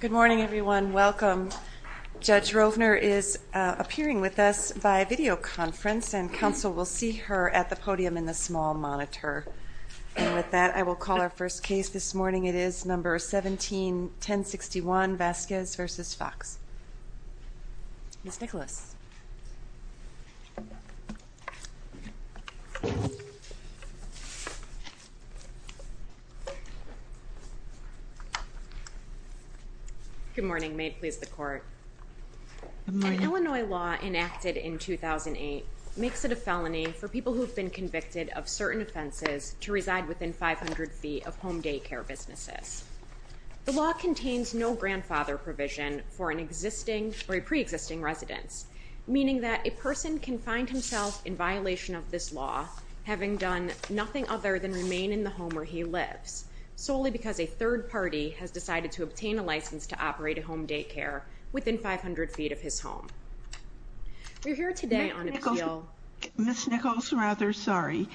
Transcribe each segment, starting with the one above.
Good morning, everyone. Welcome. Judge Rovner is appearing with us by videoconference and counsel will see her at the podium in the small monitor. And with that, I will call our first case this morning. It is number 17-1061 Vasquez v. Foxx. Ms. Nicholas. Good morning. May it please the court. An Illinois law enacted in 2008 makes it a felony for people who have been convicted of certain offenses to reside within 500 feet of home daycare businesses. The law contains no grandfather provision for an existing or a pre-existing residence, meaning that a person can find himself in violation of this law, having done nothing other than remain in the home where he lives, solely because a third party has decided to obtain a license to operate a home daycare within 500 feet of his home. We're here today on appeal. Ms. Nicholas, rather, sorry.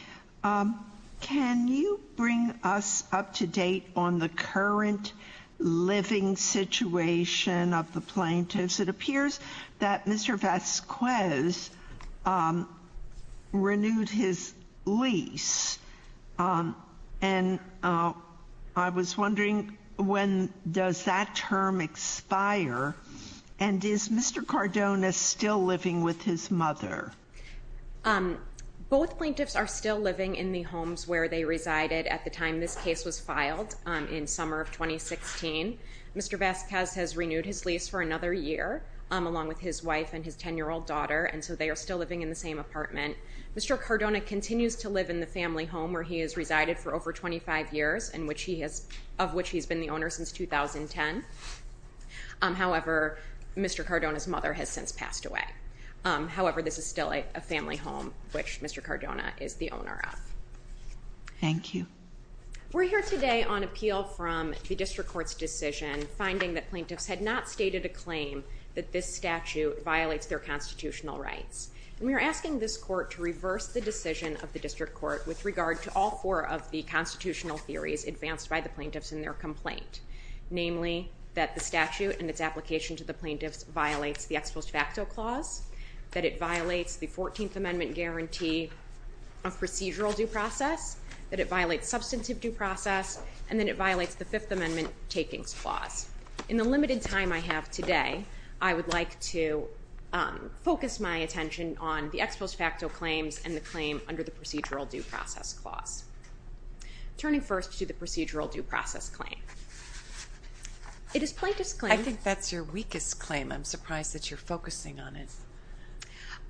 Can you bring us up to date on the current living situation of the plaintiffs? It appears that Mr. Vasquez renewed his lease. And I was wondering when does that term expire? And is Mr. Cardona still living with his mother? Both plaintiffs are still living in the homes where they resided at the time this case was filed in summer of 2016. Mr. Vasquez has renewed his lease for another year, along with his wife and his 10-year-old daughter, and so they are still living in the same apartment. Mr. Cardona continues to live in the family home where he has resided for over 25 years, of which he has been the owner since 2010. However, Mr. Cardona's mother has since passed away. However, this is still a family home, which Mr. Cardona is the owner of. Thank you. We're here today on appeal from the District Court's decision finding that plaintiffs had not stated a claim that this statute violates their constitutional rights. And we are asking this court to reverse the decision of the District Court with regard to all four of the constitutional theories advanced by the plaintiffs in their complaint, namely that the statute and its application to the plaintiffs violates the ex post facto clause, that it violates the 14th Amendment guarantee of procedural due process, that it violates substantive due process, and that it violates the Fifth Amendment. In the limited time I have today, I would like to focus my attention on the ex post facto claims and the claim under the procedural due process clause. Turning first to the procedural due process claim. It is plaintiff's claim... I think that's your weakest claim. I'm surprised that you're focusing on it.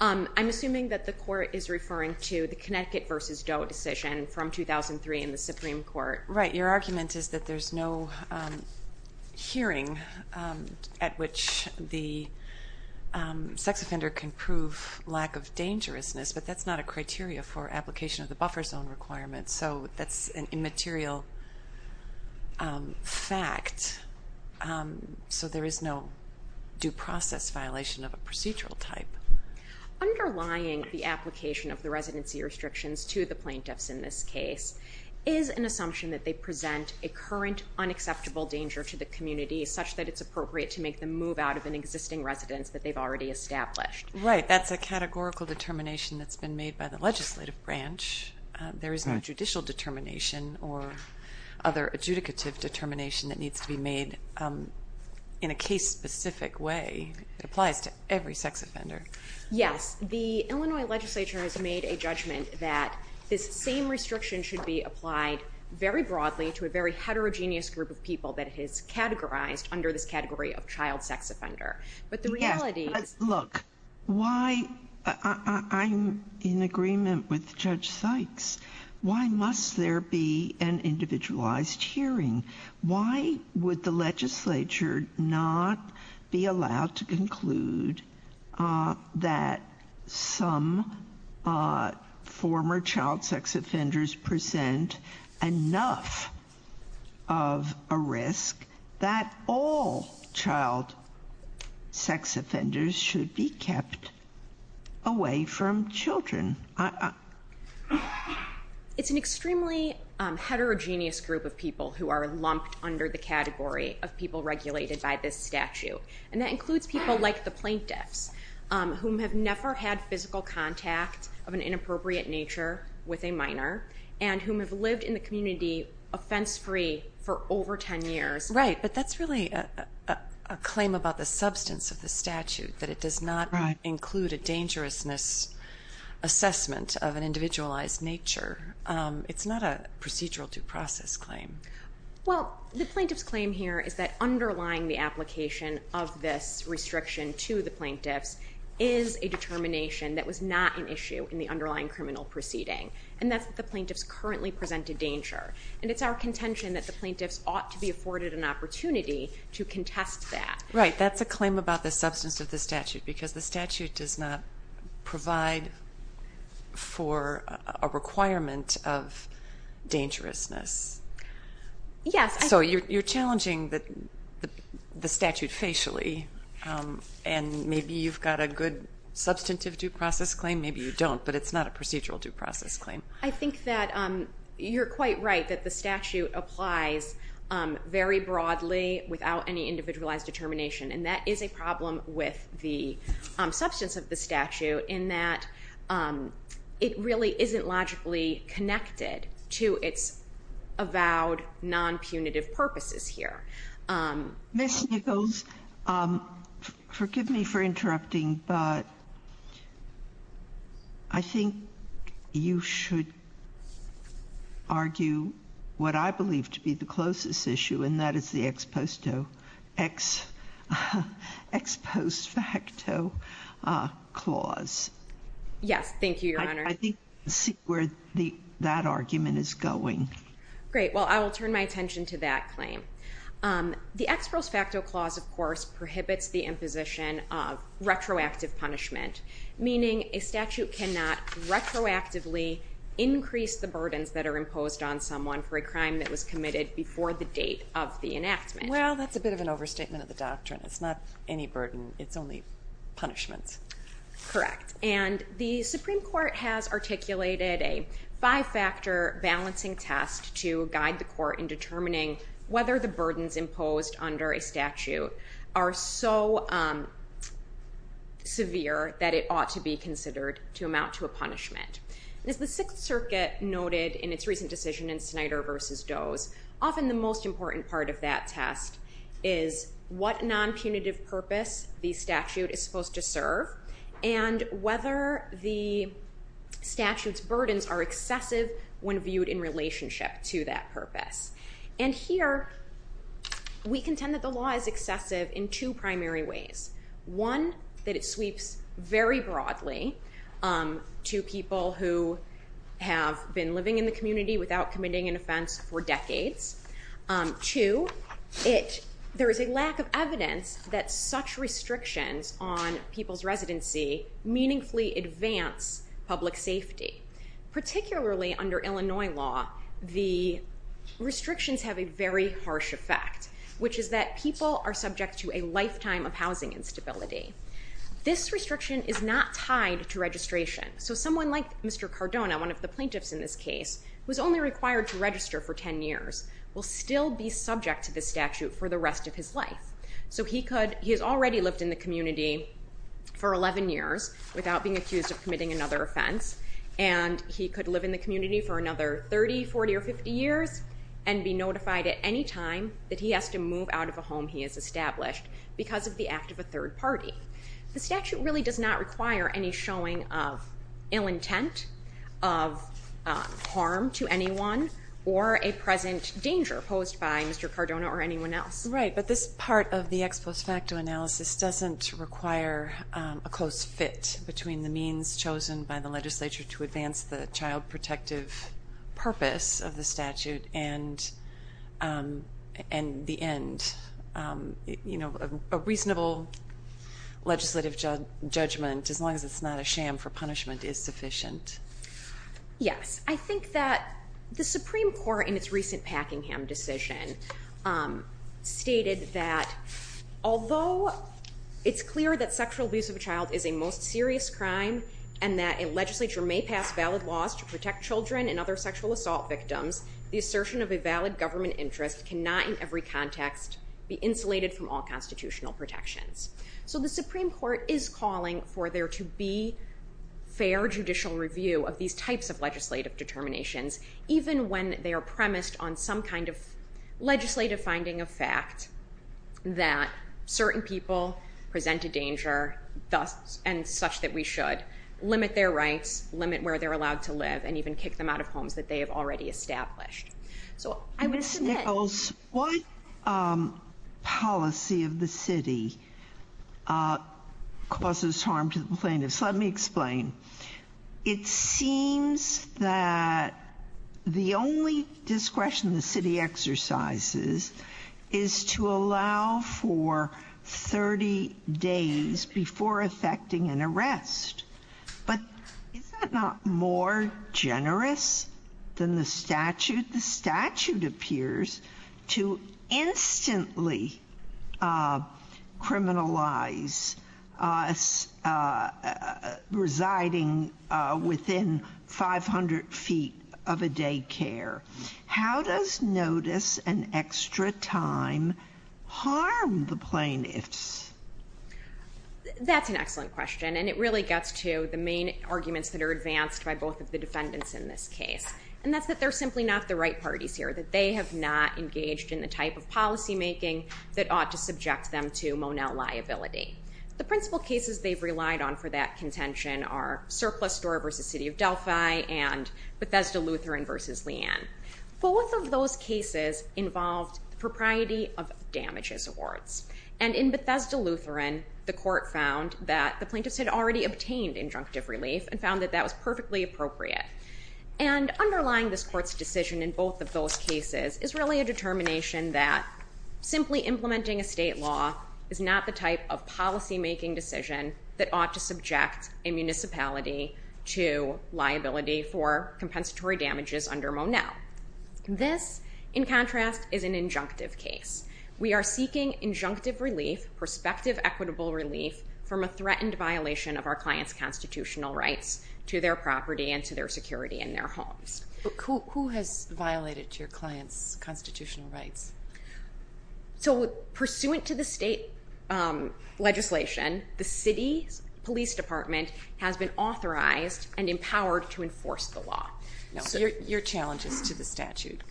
I'm assuming that the court is referring to the Connecticut v. Doe decision from 2003 in the Supreme Court. Right. Your argument is that there's no hearing at which the sex offender can prove lack of dangerousness, but that's not a criteria for application of the buffer zone requirement. So that's an immaterial fact. So there is no due process violation of a procedural type. Underlying the application of the residency restrictions to the plaintiffs in this case is an assumption that they present a current unacceptable danger to the community such that it's appropriate to make them move out of an existing residence that they've already established. Right. That's a categorical determination that's been made by the legislative branch. There is no judicial determination or other adjudicative determination that needs to be made in a case-specific way. It applies to every sex offender. Yes. The Illinois legislature has made a judgment that this same restriction should be applied very broadly to a very heterogeneous group of people that it has categorized under this category of child sex offender. But the reality is... Look, I'm in agreement with Judge Sykes. Why must there be an individualized hearing? Why would the legislature not be allowed to conclude that some former child sex offenders present enough of a risk that all child sex offenders should be kept away from children? It's an inappropriate nature with a minor and whom have lived in the community offense-free for over 10 years. Right, but that's really a claim about the substance of the statute, that it does not include a dangerousness assessment of an individualized nature. It's not a procedural due process claim. Well, the plaintiff's claim here is that underlying the application of this restriction to the plaintiffs is a determination that was not an issue in the underlying criminal proceeding, and that's the plaintiffs currently presented danger. And it's our contention that the plaintiffs ought to be afforded an opportunity to contest that. Right, that's a claim about the substance of the statute, because the statute does not provide for a requirement of dangerousness. Yes. So you're challenging the statute facially, and maybe you've got a good substantive due process claim, maybe you don't, but it's not a procedural due process claim. I think that you're quite right that the statute applies very broadly without any individualized determination, and that is a problem with the substance of the statute, in that it really isn't logically connected to its avowed non-punitive purposes here. Ms. Nichols, forgive me for interrupting, but I think you should argue what I believe to be the closest issue, and that is the ex post facto clause. Yes, thank you, Your Honor. I think we can see where that argument is going. Great, well I will turn my attention to that claim. The ex post facto clause, of course, prohibits the imposition of retroactive punishment, meaning a statute cannot retroactively increase the burdens that are imposed on someone for a crime that was committed before the date of the enactment. Well, that's a bit of an overstatement of the doctrine. It's not any burden, it's only punishment. Correct. And the Supreme Court has articulated a five-factor balancing test to guide the court in determining whether the burdens imposed under a statute are so severe that it ought to be Because the Sixth Circuit noted in its recent decision in Snyder v. Doe's, often the most important part of that test is what non-punitive purpose the statute is supposed to serve and whether the statute's burdens are excessive when viewed in relationship to that purpose. And here, we contend that the law is excessive in two primary ways. One, that it sweeps very broadly to people who have been living in the community without committing an offense for decades. Two, there is a lack of evidence that such restrictions on people's residency meaningfully advance public safety. Particularly under Illinois law, the restrictions have a very harsh effect, which is that people are subject to a lifetime of housing instability. This restriction is not tied to registration. So someone like Mr. Cardona, one of the plaintiffs in this case, who is only required to register for 10 years, will still be subject to the statute for the rest of his life. So he has already lived in the community for 11 years without being accused of committing another offense, and he could live in the community for another 30, 40, or 50 years and be notified at any time that he has to move out of a home he has established because of the act of a third party. The statute really does not require any showing of ill intent, of harm to anyone, or a present danger posed by Mr. Cardona or anyone else. Right, but this part of the ex post facto analysis doesn't require a close fit between the means chosen by the legislature to advance the child protective purpose of the statute and the end. You know, a reasonable legislative judgment, as long as it's not a sham for punishment, is sufficient. Yes. I think that the Supreme Court, in its recent Packingham decision, stated that although it's clear that sexual abuse of a child is a most serious crime and that a legislature may pass valid laws to protect children and other sexual assault victims, the assertion of a valid government interest cannot, in every context, be insulated from all constitutional protections. So the Supreme Court is calling for there to be fair judicial review of these types of legislative determinations, even when they are premised on some kind of legislative finding of fact that certain people present a danger and such that we should limit their rights, limit where they're allowed to live, and even kick them out of homes that they have already established. So I would submit... Ms. Nichols, what policy of the city causes harm to the plaintiffs? Let me explain. It seems that the only discretion the city exercises is to allow for 30 days before effecting an arrest. But is that not more generous than the statute? The statute appears to instantly criminalize residing within 500 feet of a daycare. How does notice and extra time harm the plaintiffs? That's an excellent question, and it really gets to the main arguments that are advanced by both of the defendants in this case, and that's that they're simply not the right parties here, that they have not engaged in the type of policymaking that ought to subject them to Monell liability. The principal cases they've relied on for that contention are Surplus Door v. City of Delphi and Bethesda-Lutheran v. Leanne. Both of those cases involved the propriety of damages awards. And in Bethesda-Lutheran, the court found that the plaintiffs had already obtained injunctive relief and found that that was perfectly appropriate. And underlying this court's decision in both of those cases is really a determination that simply implementing a state law is not the type of policymaking decision that ought to subject a municipality to liability for compensatory damages under Monell. This, in contrast, is an injunctive case. We are seeking injunctive relief, prospective equitable relief, from a threatened violation of our client's constitutional rights to their property and to their security in their homes. Who has violated your client's constitutional rights? So pursuant to the state legislation, the city police department has been authorized and empowered to enforce the law. Your challenge is to the statute.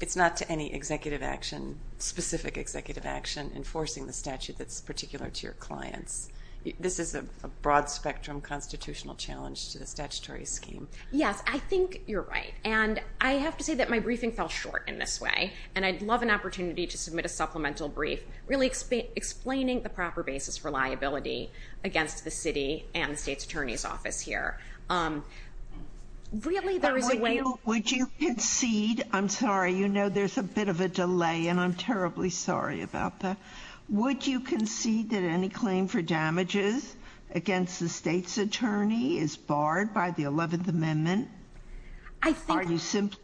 It's not to any executive action, specific executive action, enforcing the statute that's particular to your clients. This is a broad-spectrum constitutional challenge to the statutory scheme. Yes, I think you're right. And I have to say that my briefing fell short in this way. And I'd love an opportunity to submit a supplemental brief really explaining the proper basis for liability against the city and the state's attorney's office here. Really, there is a way... Would you concede... I'm sorry. You know there's a bit of a delay, and I'm terribly sorry about that. Would you concede that any claim for damages against the state's attorney is barred by the 11th Amendment? I think... Are you simply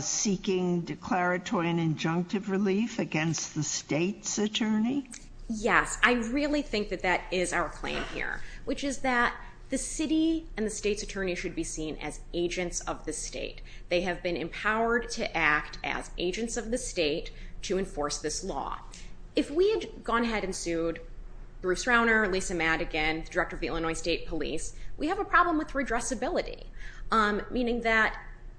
seeking declaratory and injunctive relief against the state's attorney? Yes, I really think that that is our claim here, which is that the city and the state's attorney should be seen as agents of the state. They have been empowered to act as agents of the state to enforce this law. If we had gone ahead and sued Bruce Rauner, Lisa Madigan, the director of the Illinois State Police, we have a problem with redressability, meaning that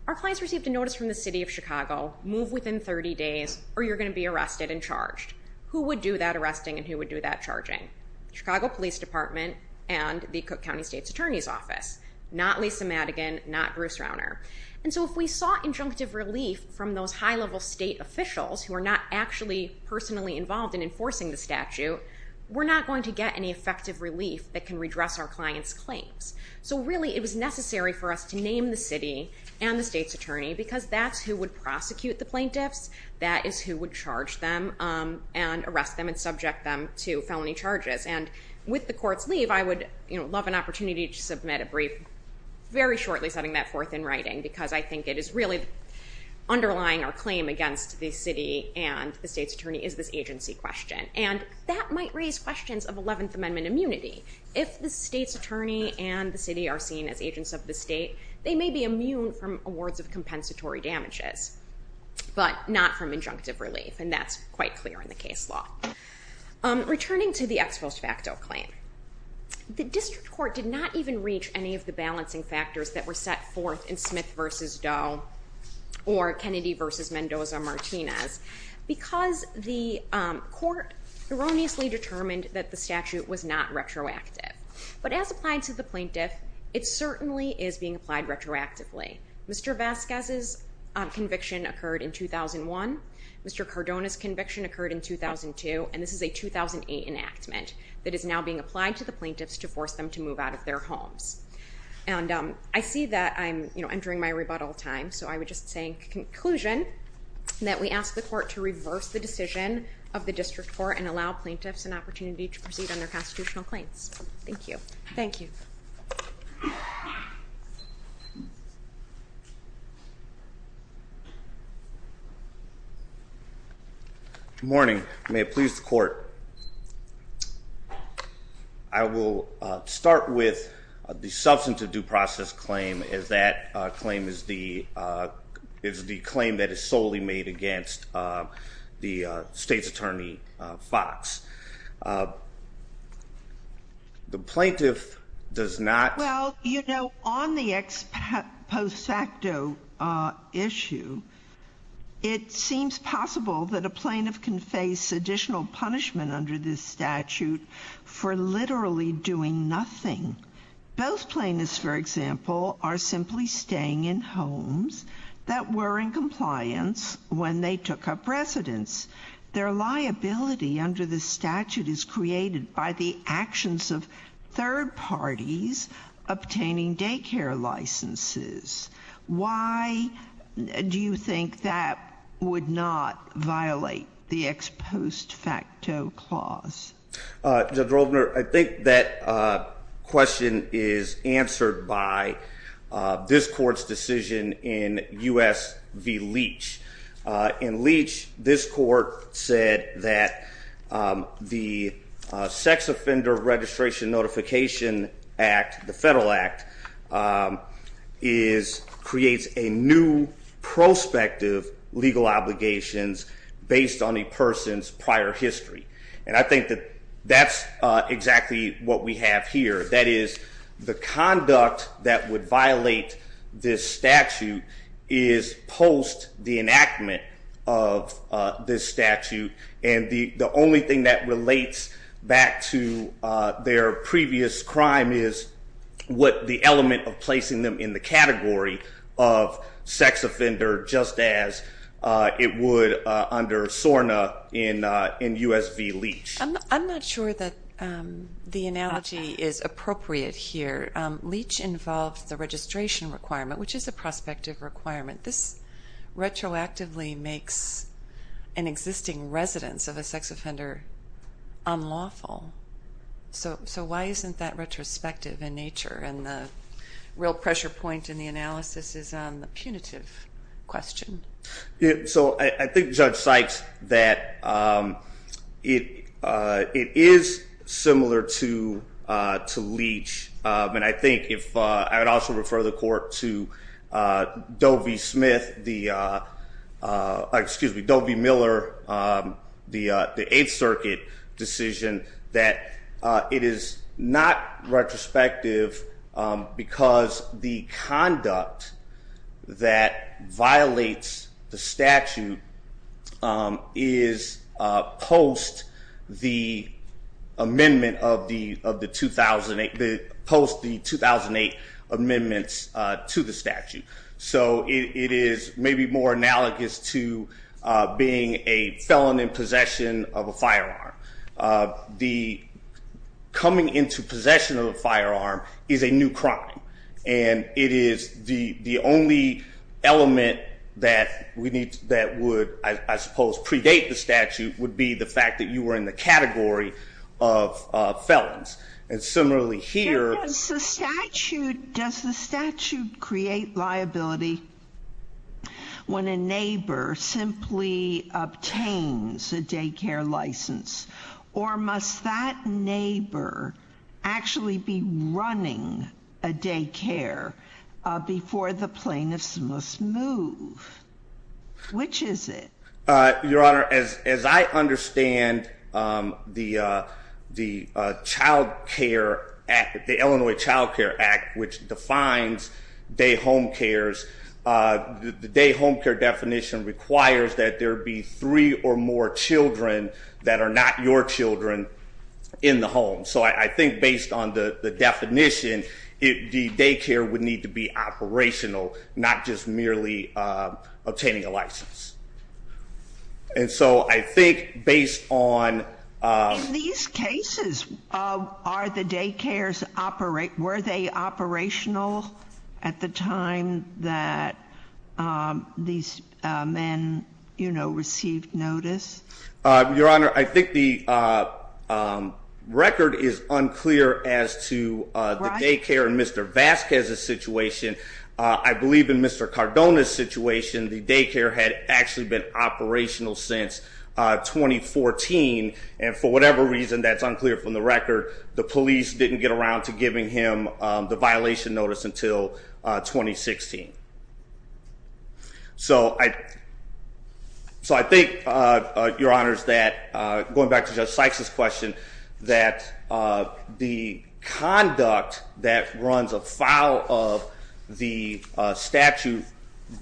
our clients received a notice from the city of Chicago, move within 30 days, or you're going to be arrested and charged. Who would do that arresting and who would do that charging? Chicago Police Department and the Cook County State's Attorney's Office. Not Lisa Madigan, not Bruce Rauner. And so if we sought injunctive relief from those high-level state officials who are not actually personally involved in enforcing the statute, we're not going to get any effective relief that can redress our clients' claims. So really, it was necessary for us to name the city and the state's attorney because that's who would prosecute the plaintiffs, that is who would charge them and arrest them and subject them to felony charges. And with the court's leave, I would, you know, love an opportunity to submit a brief very shortly setting that forth in writing because I think it is really underlying our claim against the city and the state's attorney is this agency question. And that might raise questions of 11th Amendment immunity. If the state's attorney and the city are seen as agents of the state, they may be immune from awards of compensatory damages. But not from injunctive relief, and that's quite clear in the case law. Returning to the ex post facto claim, the district court did not even reach any of the balancing factors that were set forth in Smith v. Doe or Kennedy v. Mendoza-Martinez because the court erroneously determined that the statute was not retroactive. But as applied to the plaintiff, it certainly is being applied retroactively. Mr. Vasquez's conviction occurred in 2001, Mr. Cardona's conviction occurred in 2002, and this is a 2008 enactment that is now being applied to the plaintiffs to force them to move out of their homes. And I see that I'm entering my rebuttal time, so I would just say in conclusion that we ask the court to reverse the decision of the district court and allow plaintiffs an opportunity to proceed on their constitutional claims. Thank you. Thank you. Thank you. Good morning. May it please the court. I will start with the substantive due process claim as that claim is the... is the claim that is solely made against the state's attorney, Fox. The plaintiff does not... Well, you know, on the ex post facto issue, it seems possible that a plaintiff can face additional punishment under this statute for literally doing nothing. Both plaintiffs, for example, are simply staying in homes that were in compliance when they took up residence. Their liability under the statute is created by the actions of third parties obtaining daycare licenses. Why do you think that would not violate the ex post facto clause? Judge Roldner, I think that question is answered by this court's decision in U.S. v. Leach. In Leach, this court said that the Sex Offender Registration Notification Act, the federal act, is...creates a new prospective legal obligations based on a person's prior history. And I think that that's exactly what we have here. That is, the conduct that would violate this statute is post the enactment of this statute and the only thing that relates back to their previous crime is what the element of placing them in the category of sex offender just as it would under SORNA in U.S. v. Leach. I'm not sure that the analogy is appropriate here. Leach involves the registration requirement, which is a prospective requirement. This retroactively makes an existing residence of a sex offender unlawful. So why isn't that retrospective in nature? And the real pressure point in the analysis is on the punitive question. So I think Judge Sykes, that it is similar to Leach. And I think if... I would also refer the court to Doe v. Smith, excuse me, Doe v. Miller, the 8th Circuit decision, that it is not retrospective because the conduct that violates the statute is post the amendment of the 2008... post the 2008 amendments to the statute. So it is maybe more analogous to being a felon in possession of a firearm. The coming into possession of a firearm is a new crime. And it is the only element that we need... that would, I suppose, predate the statute would be the fact that you were in the category of felons. And similarly here... Does the statute create liability when a neighbor simply obtains a daycare license? Or must that neighbor actually be running a daycare before the plaintiffs must move? Which is it? Your Honor, as I understand the Child Care Act, the Illinois Child Care Act, which defines day home cares, the day home care definition requires that there be three or more children that are not your children in the home. So I think based on the definition, the daycare would need to be operational, not just merely obtaining a license. And so I think based on... In these cases, were the daycares operational at the time that these men received notice? Your Honor, I think the record is unclear as to the daycare and Mr. Vasquez's situation. I believe in Mr. Cardona's situation, the daycare had actually been operational since 2014. And for whatever reason, that's unclear from the record. The police didn't get around to giving him the violation notice until 2016. So I... So I think, Your Honors, that going back to Judge Sykes' question, that the conduct that runs afoul of the statute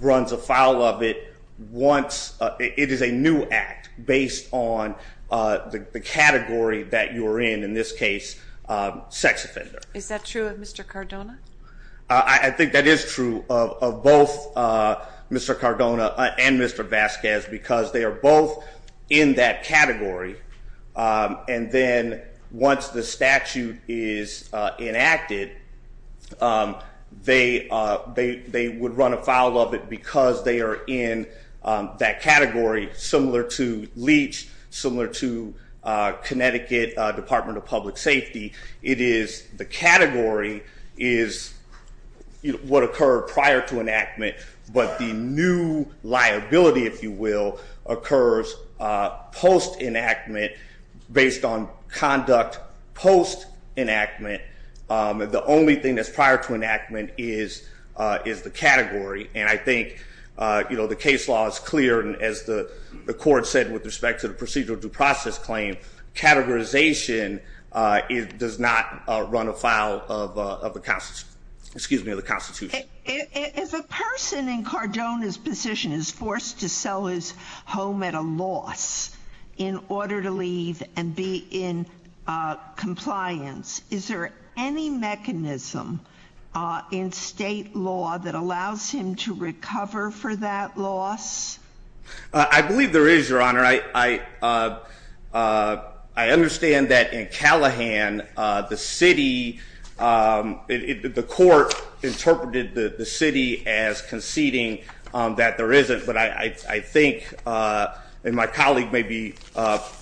runs afoul of it once... It is a new act based on the category that you are in, in this case, sex offender. Is that true of Mr. Cardona? I think that is true of both Mr. Cardona and Mr. Vasquez, because they are both in that category. And then once the statute is enacted, they would run afoul of it because they are in that category, similar to Leach, similar to Connecticut Department of Public Safety. It is... The category is what occurred prior to enactment, but the new liability, if you will, occurs post-enactment based on conduct post-enactment. The only thing that's prior to enactment is the category. And I think, you know, the case law is clear, and as the court said with respect to the procedural due process claim, categorization does not run afoul of the Constitution. If a person in Cardona's position is forced to sell his home at a loss in order to leave and be in compliance, is there any mechanism in state law that allows him to recover for that loss? I believe there is, Your Honor. I understand that in Callahan, the city... The court interpreted the city as conceding that there isn't, but I think, and my colleague may be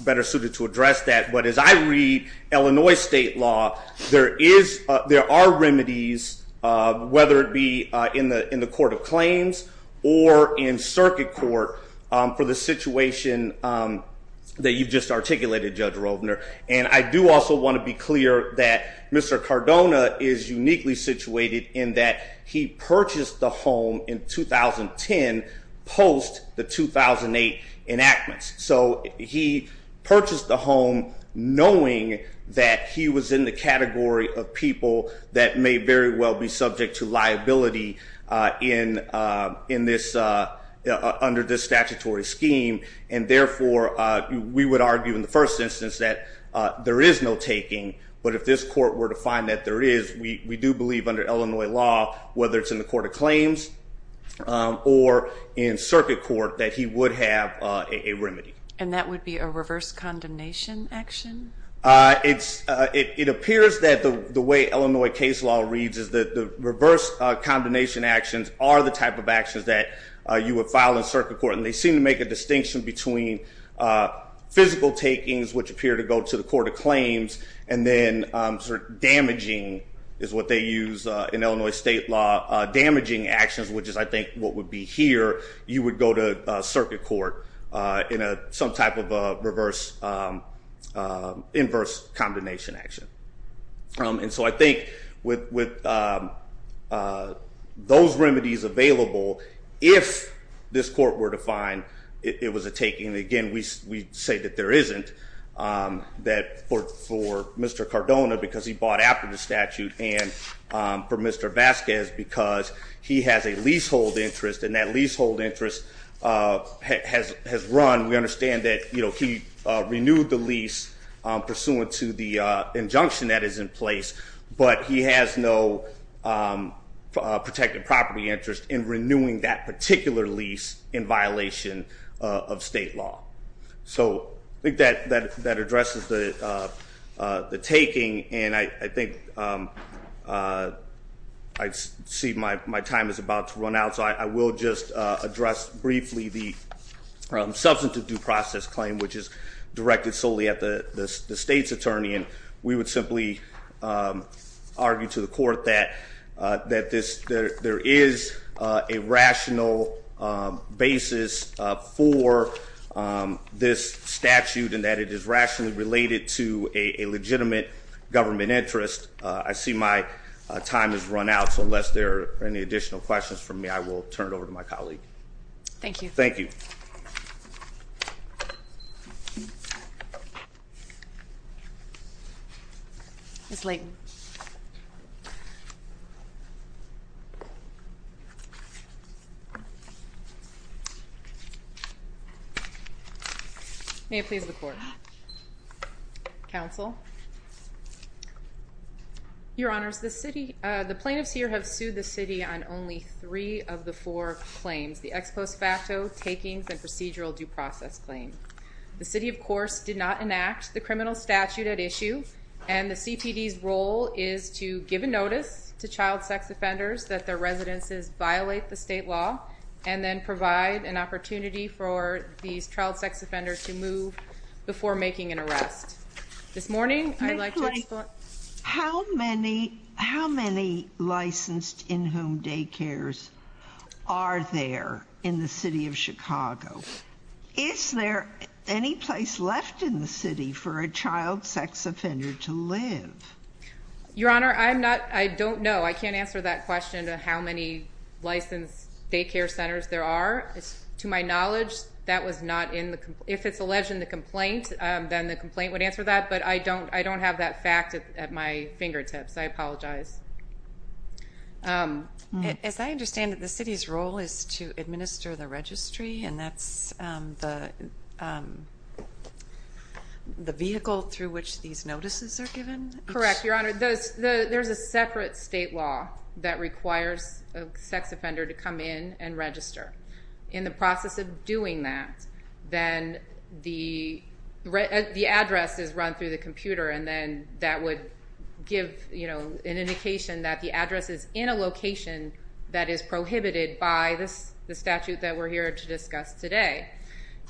better suited to address that, but as I read Illinois state law, there is... There are remedies, whether it be in the court of claims or in circuit court, for the situation that you've just articulated, Judge Rovner. And I do also want to be clear that Mr. Cardona is uniquely situated in that he purchased the home in 2010 post the 2008 enactments. So he purchased the home knowing that he was in the category of people that may very well be subject to liability in this... under this statutory scheme, and therefore, we would argue in the first instance that there is no taking, but if this court were to find that there is, we do believe under Illinois law, whether it's in the court of claims or in circuit court, that he would have a remedy. And that would be a reverse condemnation action? It's... It appears that the way Illinois case law reads is that the reverse condemnation actions are the type of actions that you would file in circuit court, between physical takings, which appear to go to the court of claims, and then sort of damaging is what they use in Illinois state law. Damaging actions, which is I think what would be here, you would go to circuit court in some type of reverse... inverse condemnation action. And so I think with... those remedies available, if this court were to find it was a taking, and again, we say that there isn't, that for Mr. Cardona, because he bought after the statute, and for Mr. Vasquez, because he has a leasehold interest, and that leasehold interest has run. We understand that, you know, he renewed the lease pursuant to the injunction that is in place, but he has no protected property interest in renewing that particular lease in violation of state law. So I think that addresses the taking, and I think... I see my time is about to run out, so I will just address briefly the substantive due process claim, which is directed solely at the state's attorney, and we would simply argue to the court that there is a rational basis for this statute, and that it is rationally related to a legitimate government interest. I see my time has run out, so unless there are any additional questions from me, I will turn it over to my colleague. Thank you. Thank you. Ms. Layton. May it please the court. Counsel. Your Honors, the city... The plaintiffs here have sued the city on only three of the four claims, the ex post facto takings and procedural due process claim. The city, of course, did not enact the criminal statute at issue, and the CTD's role is to give a notice to child sex offenders that their residences violate the state law and then provide an opportunity for these child sex offenders to move before making an arrest. This morning, I'd like to... Ms. Layton, how many... How many licensed in-home daycares are there in the city of Chicago? Is there any place left in the city for a child sex offender to live? Your Honor, I'm not... I don't know. I can't answer that question of how many licensed daycare centers there are. To my knowledge, that was not in the... If it's alleged in the complaint, then the complaint would answer that, but I don't have that fact at my fingertips. I apologize. As I understand it, the city's role is to administer the registry, and that's the vehicle through which these notices are given? Correct, Your Honor. There's a separate state law that requires a sex offender to come in and register. In the process of doing that, then the address is run through the computer, and then that would give, you know, an indication that the address is in a location that is prohibited by the statute that we're here to discuss today.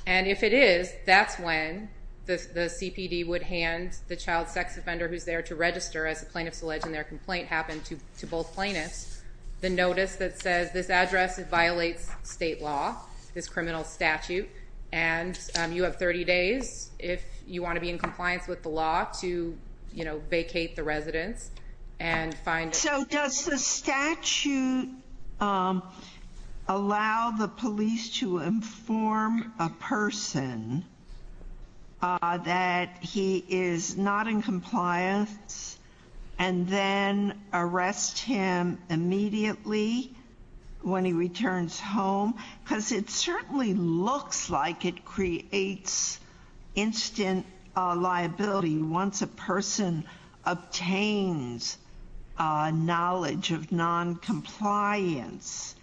And if it is, that's when the CPD would hand the child sex offender who's there to register as the plaintiff's alleged in their complaint happened to both plaintiffs the notice that says, this address violates state law, this criminal statute, and you have 30 days if you want to be in compliance with the law to, you know, vacate the residence and find... So does the statute allow the police to inform a person that he is not in compliance and then arrest him immediately when he returns home? Because it certainly looks like it creates instant liability once a person obtains knowledge of noncompliance.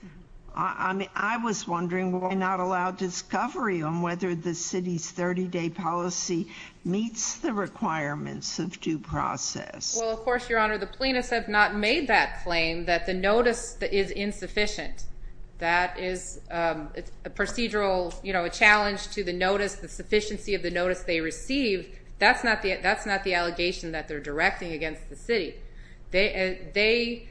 I mean, I was wondering why not allow discovery on whether the city's 30-day policy meets the requirements of due process. Well, of course, Your Honor, the plaintiffs have not made that claim that the notice is insufficient. That is a procedural, you know, a challenge to the notice, the sufficiency of the notice they receive. That's not the allegation that they're directing against the city. They...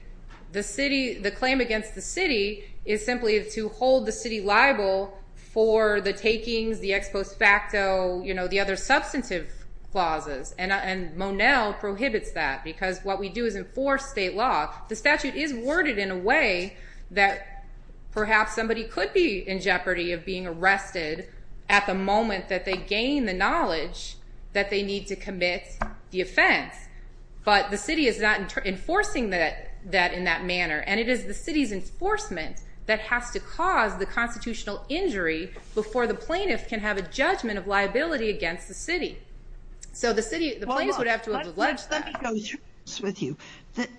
The city... The claim against the city is simply to hold the city liable for the takings, the ex post facto, you know, the other substantive clauses. And Monell prohibits that because what we do is enforce state law. The statute is worded in a way that perhaps somebody could be in jeopardy of being arrested at the moment that they gain the knowledge that they need to commit the offense. But the city is not enforcing that in that manner. And it is the city's enforcement that has to cause the constitutional injury before the plaintiff can have a judgment of liability against the city. So the city... The plaintiffs would have to have alleged that. Let me go through this with you.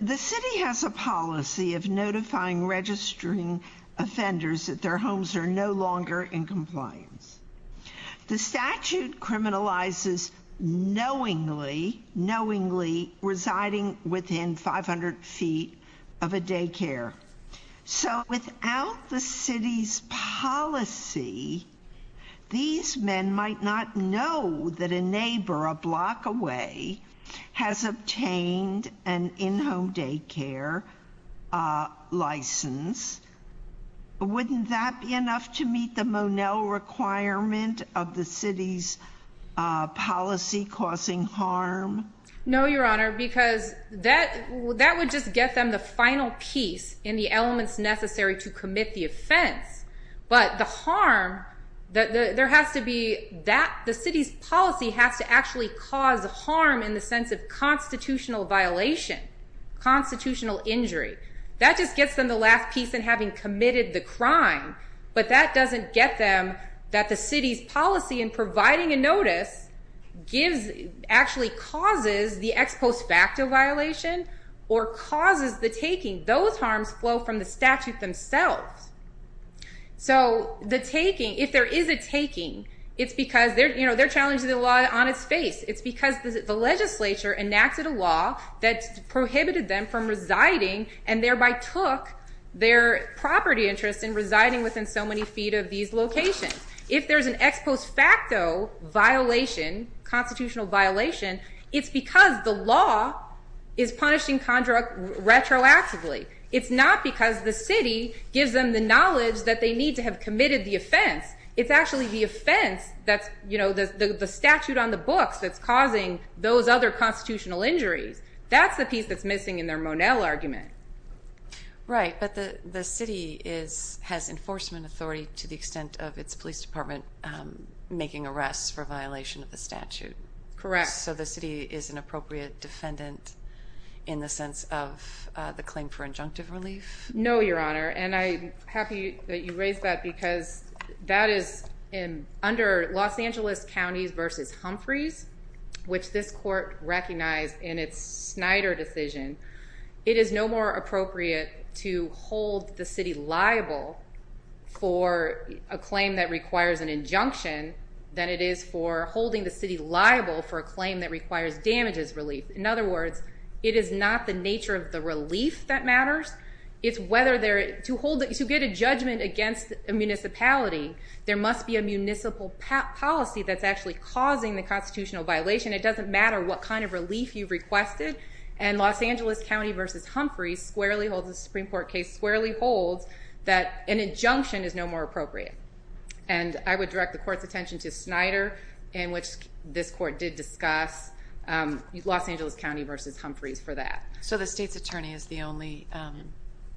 The city has a policy of notifying registering offenders that their homes are no longer in compliance. The statute criminalizes knowingly, knowingly residing within 500 feet of a daycare. So without the city's policy, these men might not know that a neighbor a block away has obtained an in-home daycare, uh, license. Wouldn't that be enough to meet the Monell requirement of the city's, uh, policy causing harm? No, Your Honor, because that-that would just get them the final piece in the elements necessary to commit the offense. But the harm... There has to be that... The city's policy has to actually cause harm in the sense of constitutional violation, constitutional injury. That just gets them the last piece in having committed the crime. But that doesn't get them that the city's policy in providing a notice gives... actually causes the ex post facto violation or causes the taking. Those harms flow from the statute themselves. So the taking, if there is a taking, it's because they're, you know, they're challenging the law on its face. It's because the legislature enacted a law that prohibited them from residing and thereby took their property interest in residing within so many feet of these locations. If there's an ex post facto violation, constitutional violation, it's because the law is punishing... retroactively. It's not because the city gives them the knowledge that they need to have committed the offense. It's actually the offense that's, you know, the statute on the books that's causing those other constitutional injuries. That's the piece that's missing in their Monell argument. Right, but the city is... has enforcement authority to the extent of its police department making arrests for violation of the statute. Correct. So the city is an appropriate defendant in the sense of the claim for injunctive relief? No, Your Honor, and I'm happy that you raised that because that is in... under Los Angeles counties versus Humphreys, which this court recognized in its Snyder decision, it is no more appropriate to hold the city liable for a claim that requires an injunction than it is for holding the city liable for a claim that requires damages relief. In other words, it is not the nature of the relief that matters. It's whether there... to hold... to get a judgment against a municipality, there must be a municipal policy that's actually causing the constitutional violation. It doesn't matter what kind of relief you've requested. And Los Angeles County versus Humphreys squarely holds... the Supreme Court case squarely holds that an injunction is no more appropriate. And I would direct the court's attention to Snyder in which this court did discuss Los Angeles County versus Humphreys for that. So the state's attorney is the only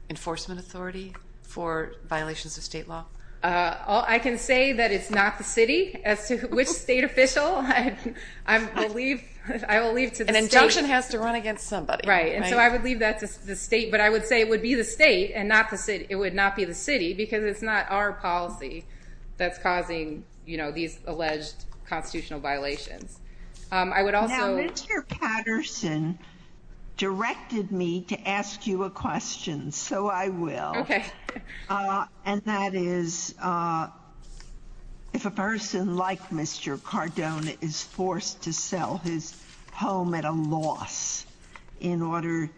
enforcement authority for violations of state law? I can say that it's not the city as to which state official I will leave to the state. And injunction has to run against somebody. Right. And so I would leave that to the state but I would say it would be the state and not the city. It would not be the city because it's not our policy that's causing these alleged constitutional violations. I would also... Now, Mr. Patterson directed me to ask you a question, so I will. Okay. And that is if a person like Mr. Cardone is forced to sell his home at a loss in order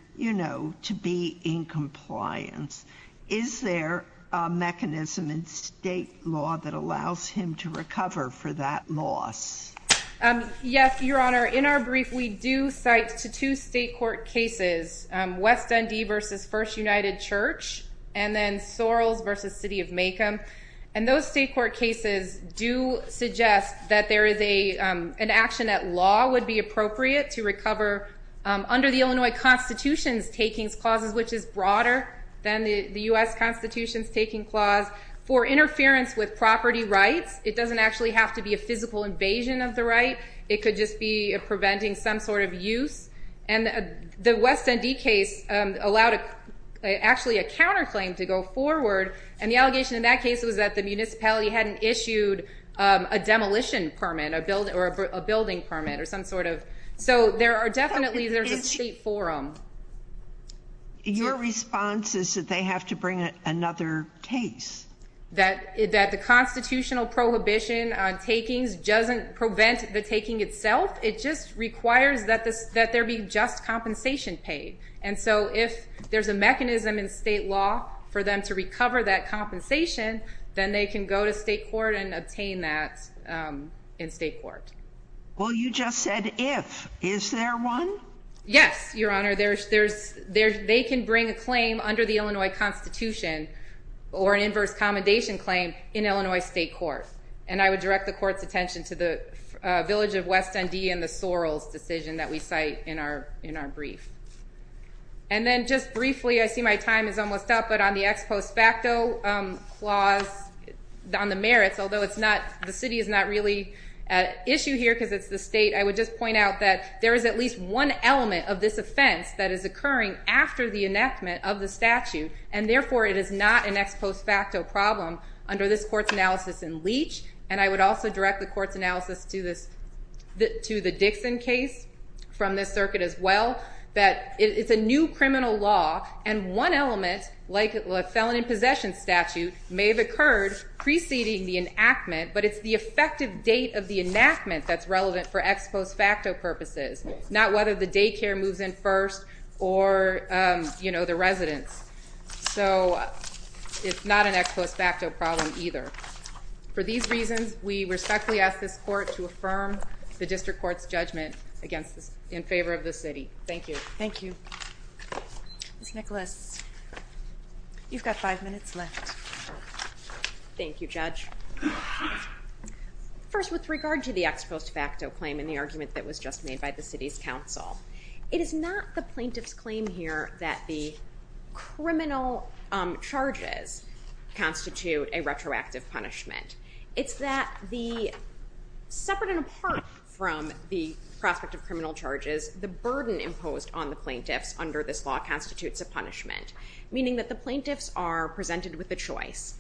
to be in compliance is there a mechanism in state law that allows him to recover for that loss? Yes, Your Honor. In our brief we do cite to two state court cases. West Dundee versus First United Church and then Sorrells versus City of Maycomb. And those state court cases do suggest that there is an action that law would be appropriate to recover under the Illinois Constitution taking clauses which is broader than the U.S. Constitution taking clause for interference with property rights. It doesn't actually have to be a physical invasion of the right. It could just be preventing some sort of use. The West Dundee case allowed actually a counter claim to go forward and the allegation in that case was that the municipality hadn't issued a demolition permit or a building permit or some sort of... So there are definitely there's a state forum. Your response is that they have to bring another case. That the constitutional prohibition on takings doesn't prevent the taking itself. It just requires that there be just compensation paid. And so if there's a mechanism in state law for them to recover that compensation then they can go to state court and obtain that in state court. Well you just said if. Is there one? Yes, your honor. They can bring a claim under the Illinois Constitution or an inverse commendation claim in Illinois state court. And I would direct the court's attention to the village of West Dundee and the Sorrell's decision that we cite in our brief. And then just briefly I see my time is almost up but on the ex post facto clause on the merits although the city is not really at issue here because it's the state. I would just point out that there is at least one element of this offense that is occurring after the enactment of the statute and therefore it is not an ex post facto problem under this court's analysis in Leach and I would also direct the court's analysis to this to the Dixon case from this circuit as well that it's a new criminal law and one element like a felon in possession statute may have occurred preceding the enactment but it's the effective date of the ex post facto purposes. Not whether the daycare moves in first or you know the residence. So it's not an ex post facto problem either. For these reasons we respectfully ask this court to affirm the district court's judgment in favor of the city. Thank you. Thank you. Ms. Nicholas you've got five minutes left. Thank you judge. First with regard to the ex post facto claim in the argument that was just made by the city's council it is not the plaintiff's claim here that the criminal charges constitute a retroactive punishment. It's that the separate and apart from the prospect of criminal charges the burden imposed on the plaintiffs under this law constitutes a punishment. Meaning that the plaintiffs are presented with a choice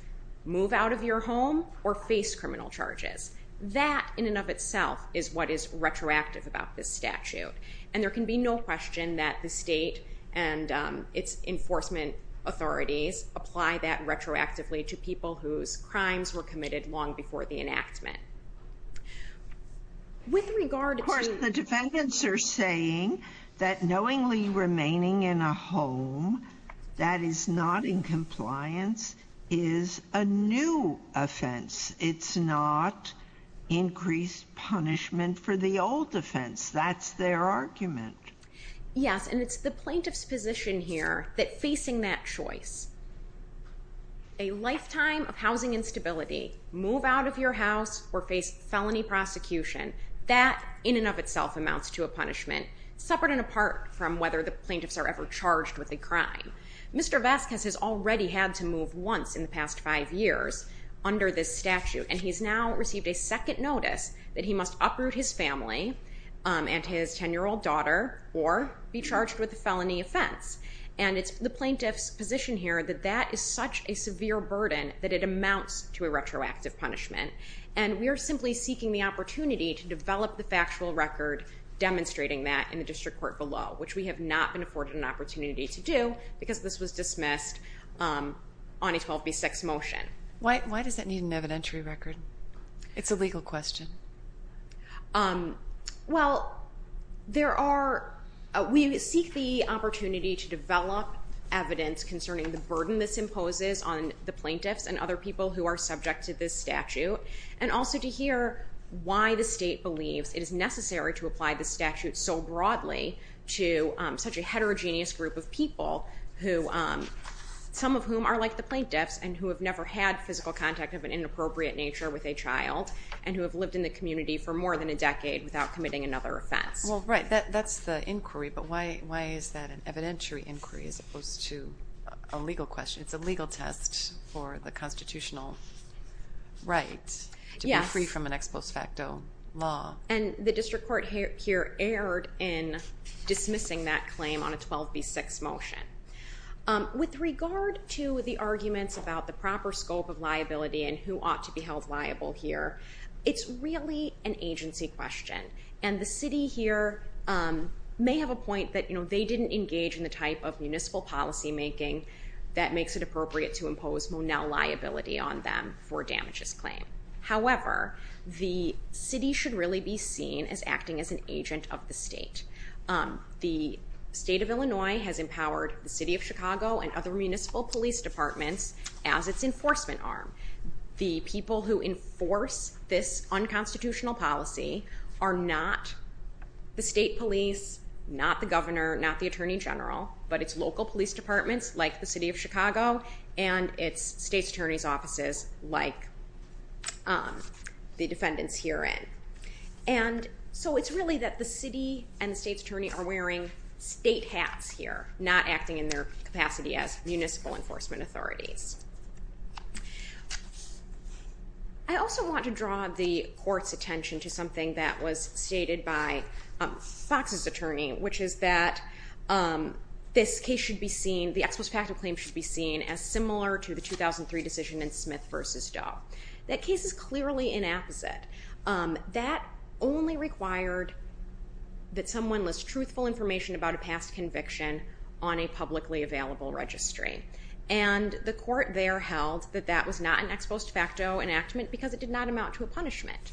move out of your home or face criminal charges. That in and of itself is what is retroactive about this statute. And there can be no question that the state and its enforcement authorities apply that retroactively to people whose crimes were committed long before the enactment. With regard Of course the defendants are saying that knowingly remaining in a home that is not in compliance is a new offense. It's not increased punishment for the old offense. That's their argument. Yes and it's the plaintiff's position here that facing that choice a lifetime of housing instability move out of your house or face felony prosecution. That in and of itself amounts to a punishment separate and apart from whether the plaintiffs are ever charged with a crime. Mr. Vasquez has already had to serve 25 years under this statute and he's now received a second notice that he must uproot his family and his 10 year old daughter or be charged with a felony offense. And it's the plaintiff's position here that that is such a severe burden that it amounts to a retroactive punishment. And we are simply seeking the opportunity to develop the factual record demonstrating that in the district court below. Which we have not been afforded an opportunity to do because this was dismissed on a 12B6 motion. Why does that need an evidentiary record? It's a legal question. Well there are we seek the opportunity to develop evidence concerning the burden this imposes on the plaintiffs and other people who are subject to this statute. And also to hear why the state believes it is necessary to apply this statute so broadly to such a heterogeneous group of some of whom are like the plaintiffs and who have never had physical contact of an inappropriate nature with a child and who have lived in the community for more than a decade without committing another offense. Well right, that's the inquiry but why is that an evidentiary inquiry as opposed to a legal question? It's a legal test for the constitutional right to be free from an ex post facto law. And the district court here erred in dismissing that claim on a 12B6 motion. With regard to the arguments about the proper scope of liability and who ought to be held liable here, it's really an agency question. And the city here may have a point that they didn't engage in the type of municipal policy making that makes it appropriate to impose liability on them for damages claim. However, the city should really be seen as acting as an agent of the state. The state of Illinois has empowered the city of Chicago and other municipal police departments as its enforcement arm. The people who enforce this unconstitutional policy are not the state police, not the governor, not the attorney general, but it's local police departments like the city of Chicago and it's state attorney's offices like the defendants herein. And the state attorney are wearing state hats here, not acting in their capacity as municipal enforcement authorities. I also want to draw the court's attention to something that was stated by Fox's attorney, which is that this case should be seen, the ex post facto claim should be seen as similar to the 2003 decision in Smith v. Doe. That case is clearly inapposite. That only required that someone list truthful information about a past conviction on a publicly available registry. And the court there held that that was not an ex post facto enactment because it did not amount to a punishment.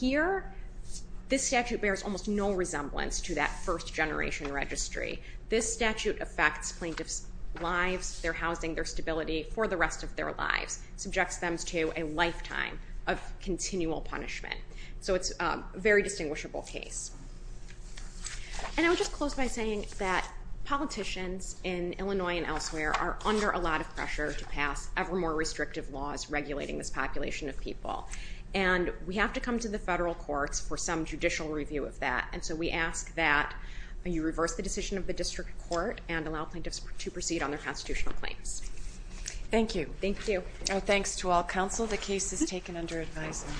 Here this statute bears almost no resemblance to that first generation registry. This statute affects plaintiffs' lives, their housing, their stability for the rest of their lives. Subjects them to a lifetime of continual punishment. So it's a very distinguishable case. And I would just close by saying that politicians in Illinois and elsewhere are under a lot of pressure to pass ever more restrictive laws regulating this population of people. And we have to come to the federal courts for some judicial review of that. And so we ask that you reverse the decision of the district court and allow plaintiffs to proceed on their constitutional claims. Thank you. Thanks to all counsel. The case is taken under advisement.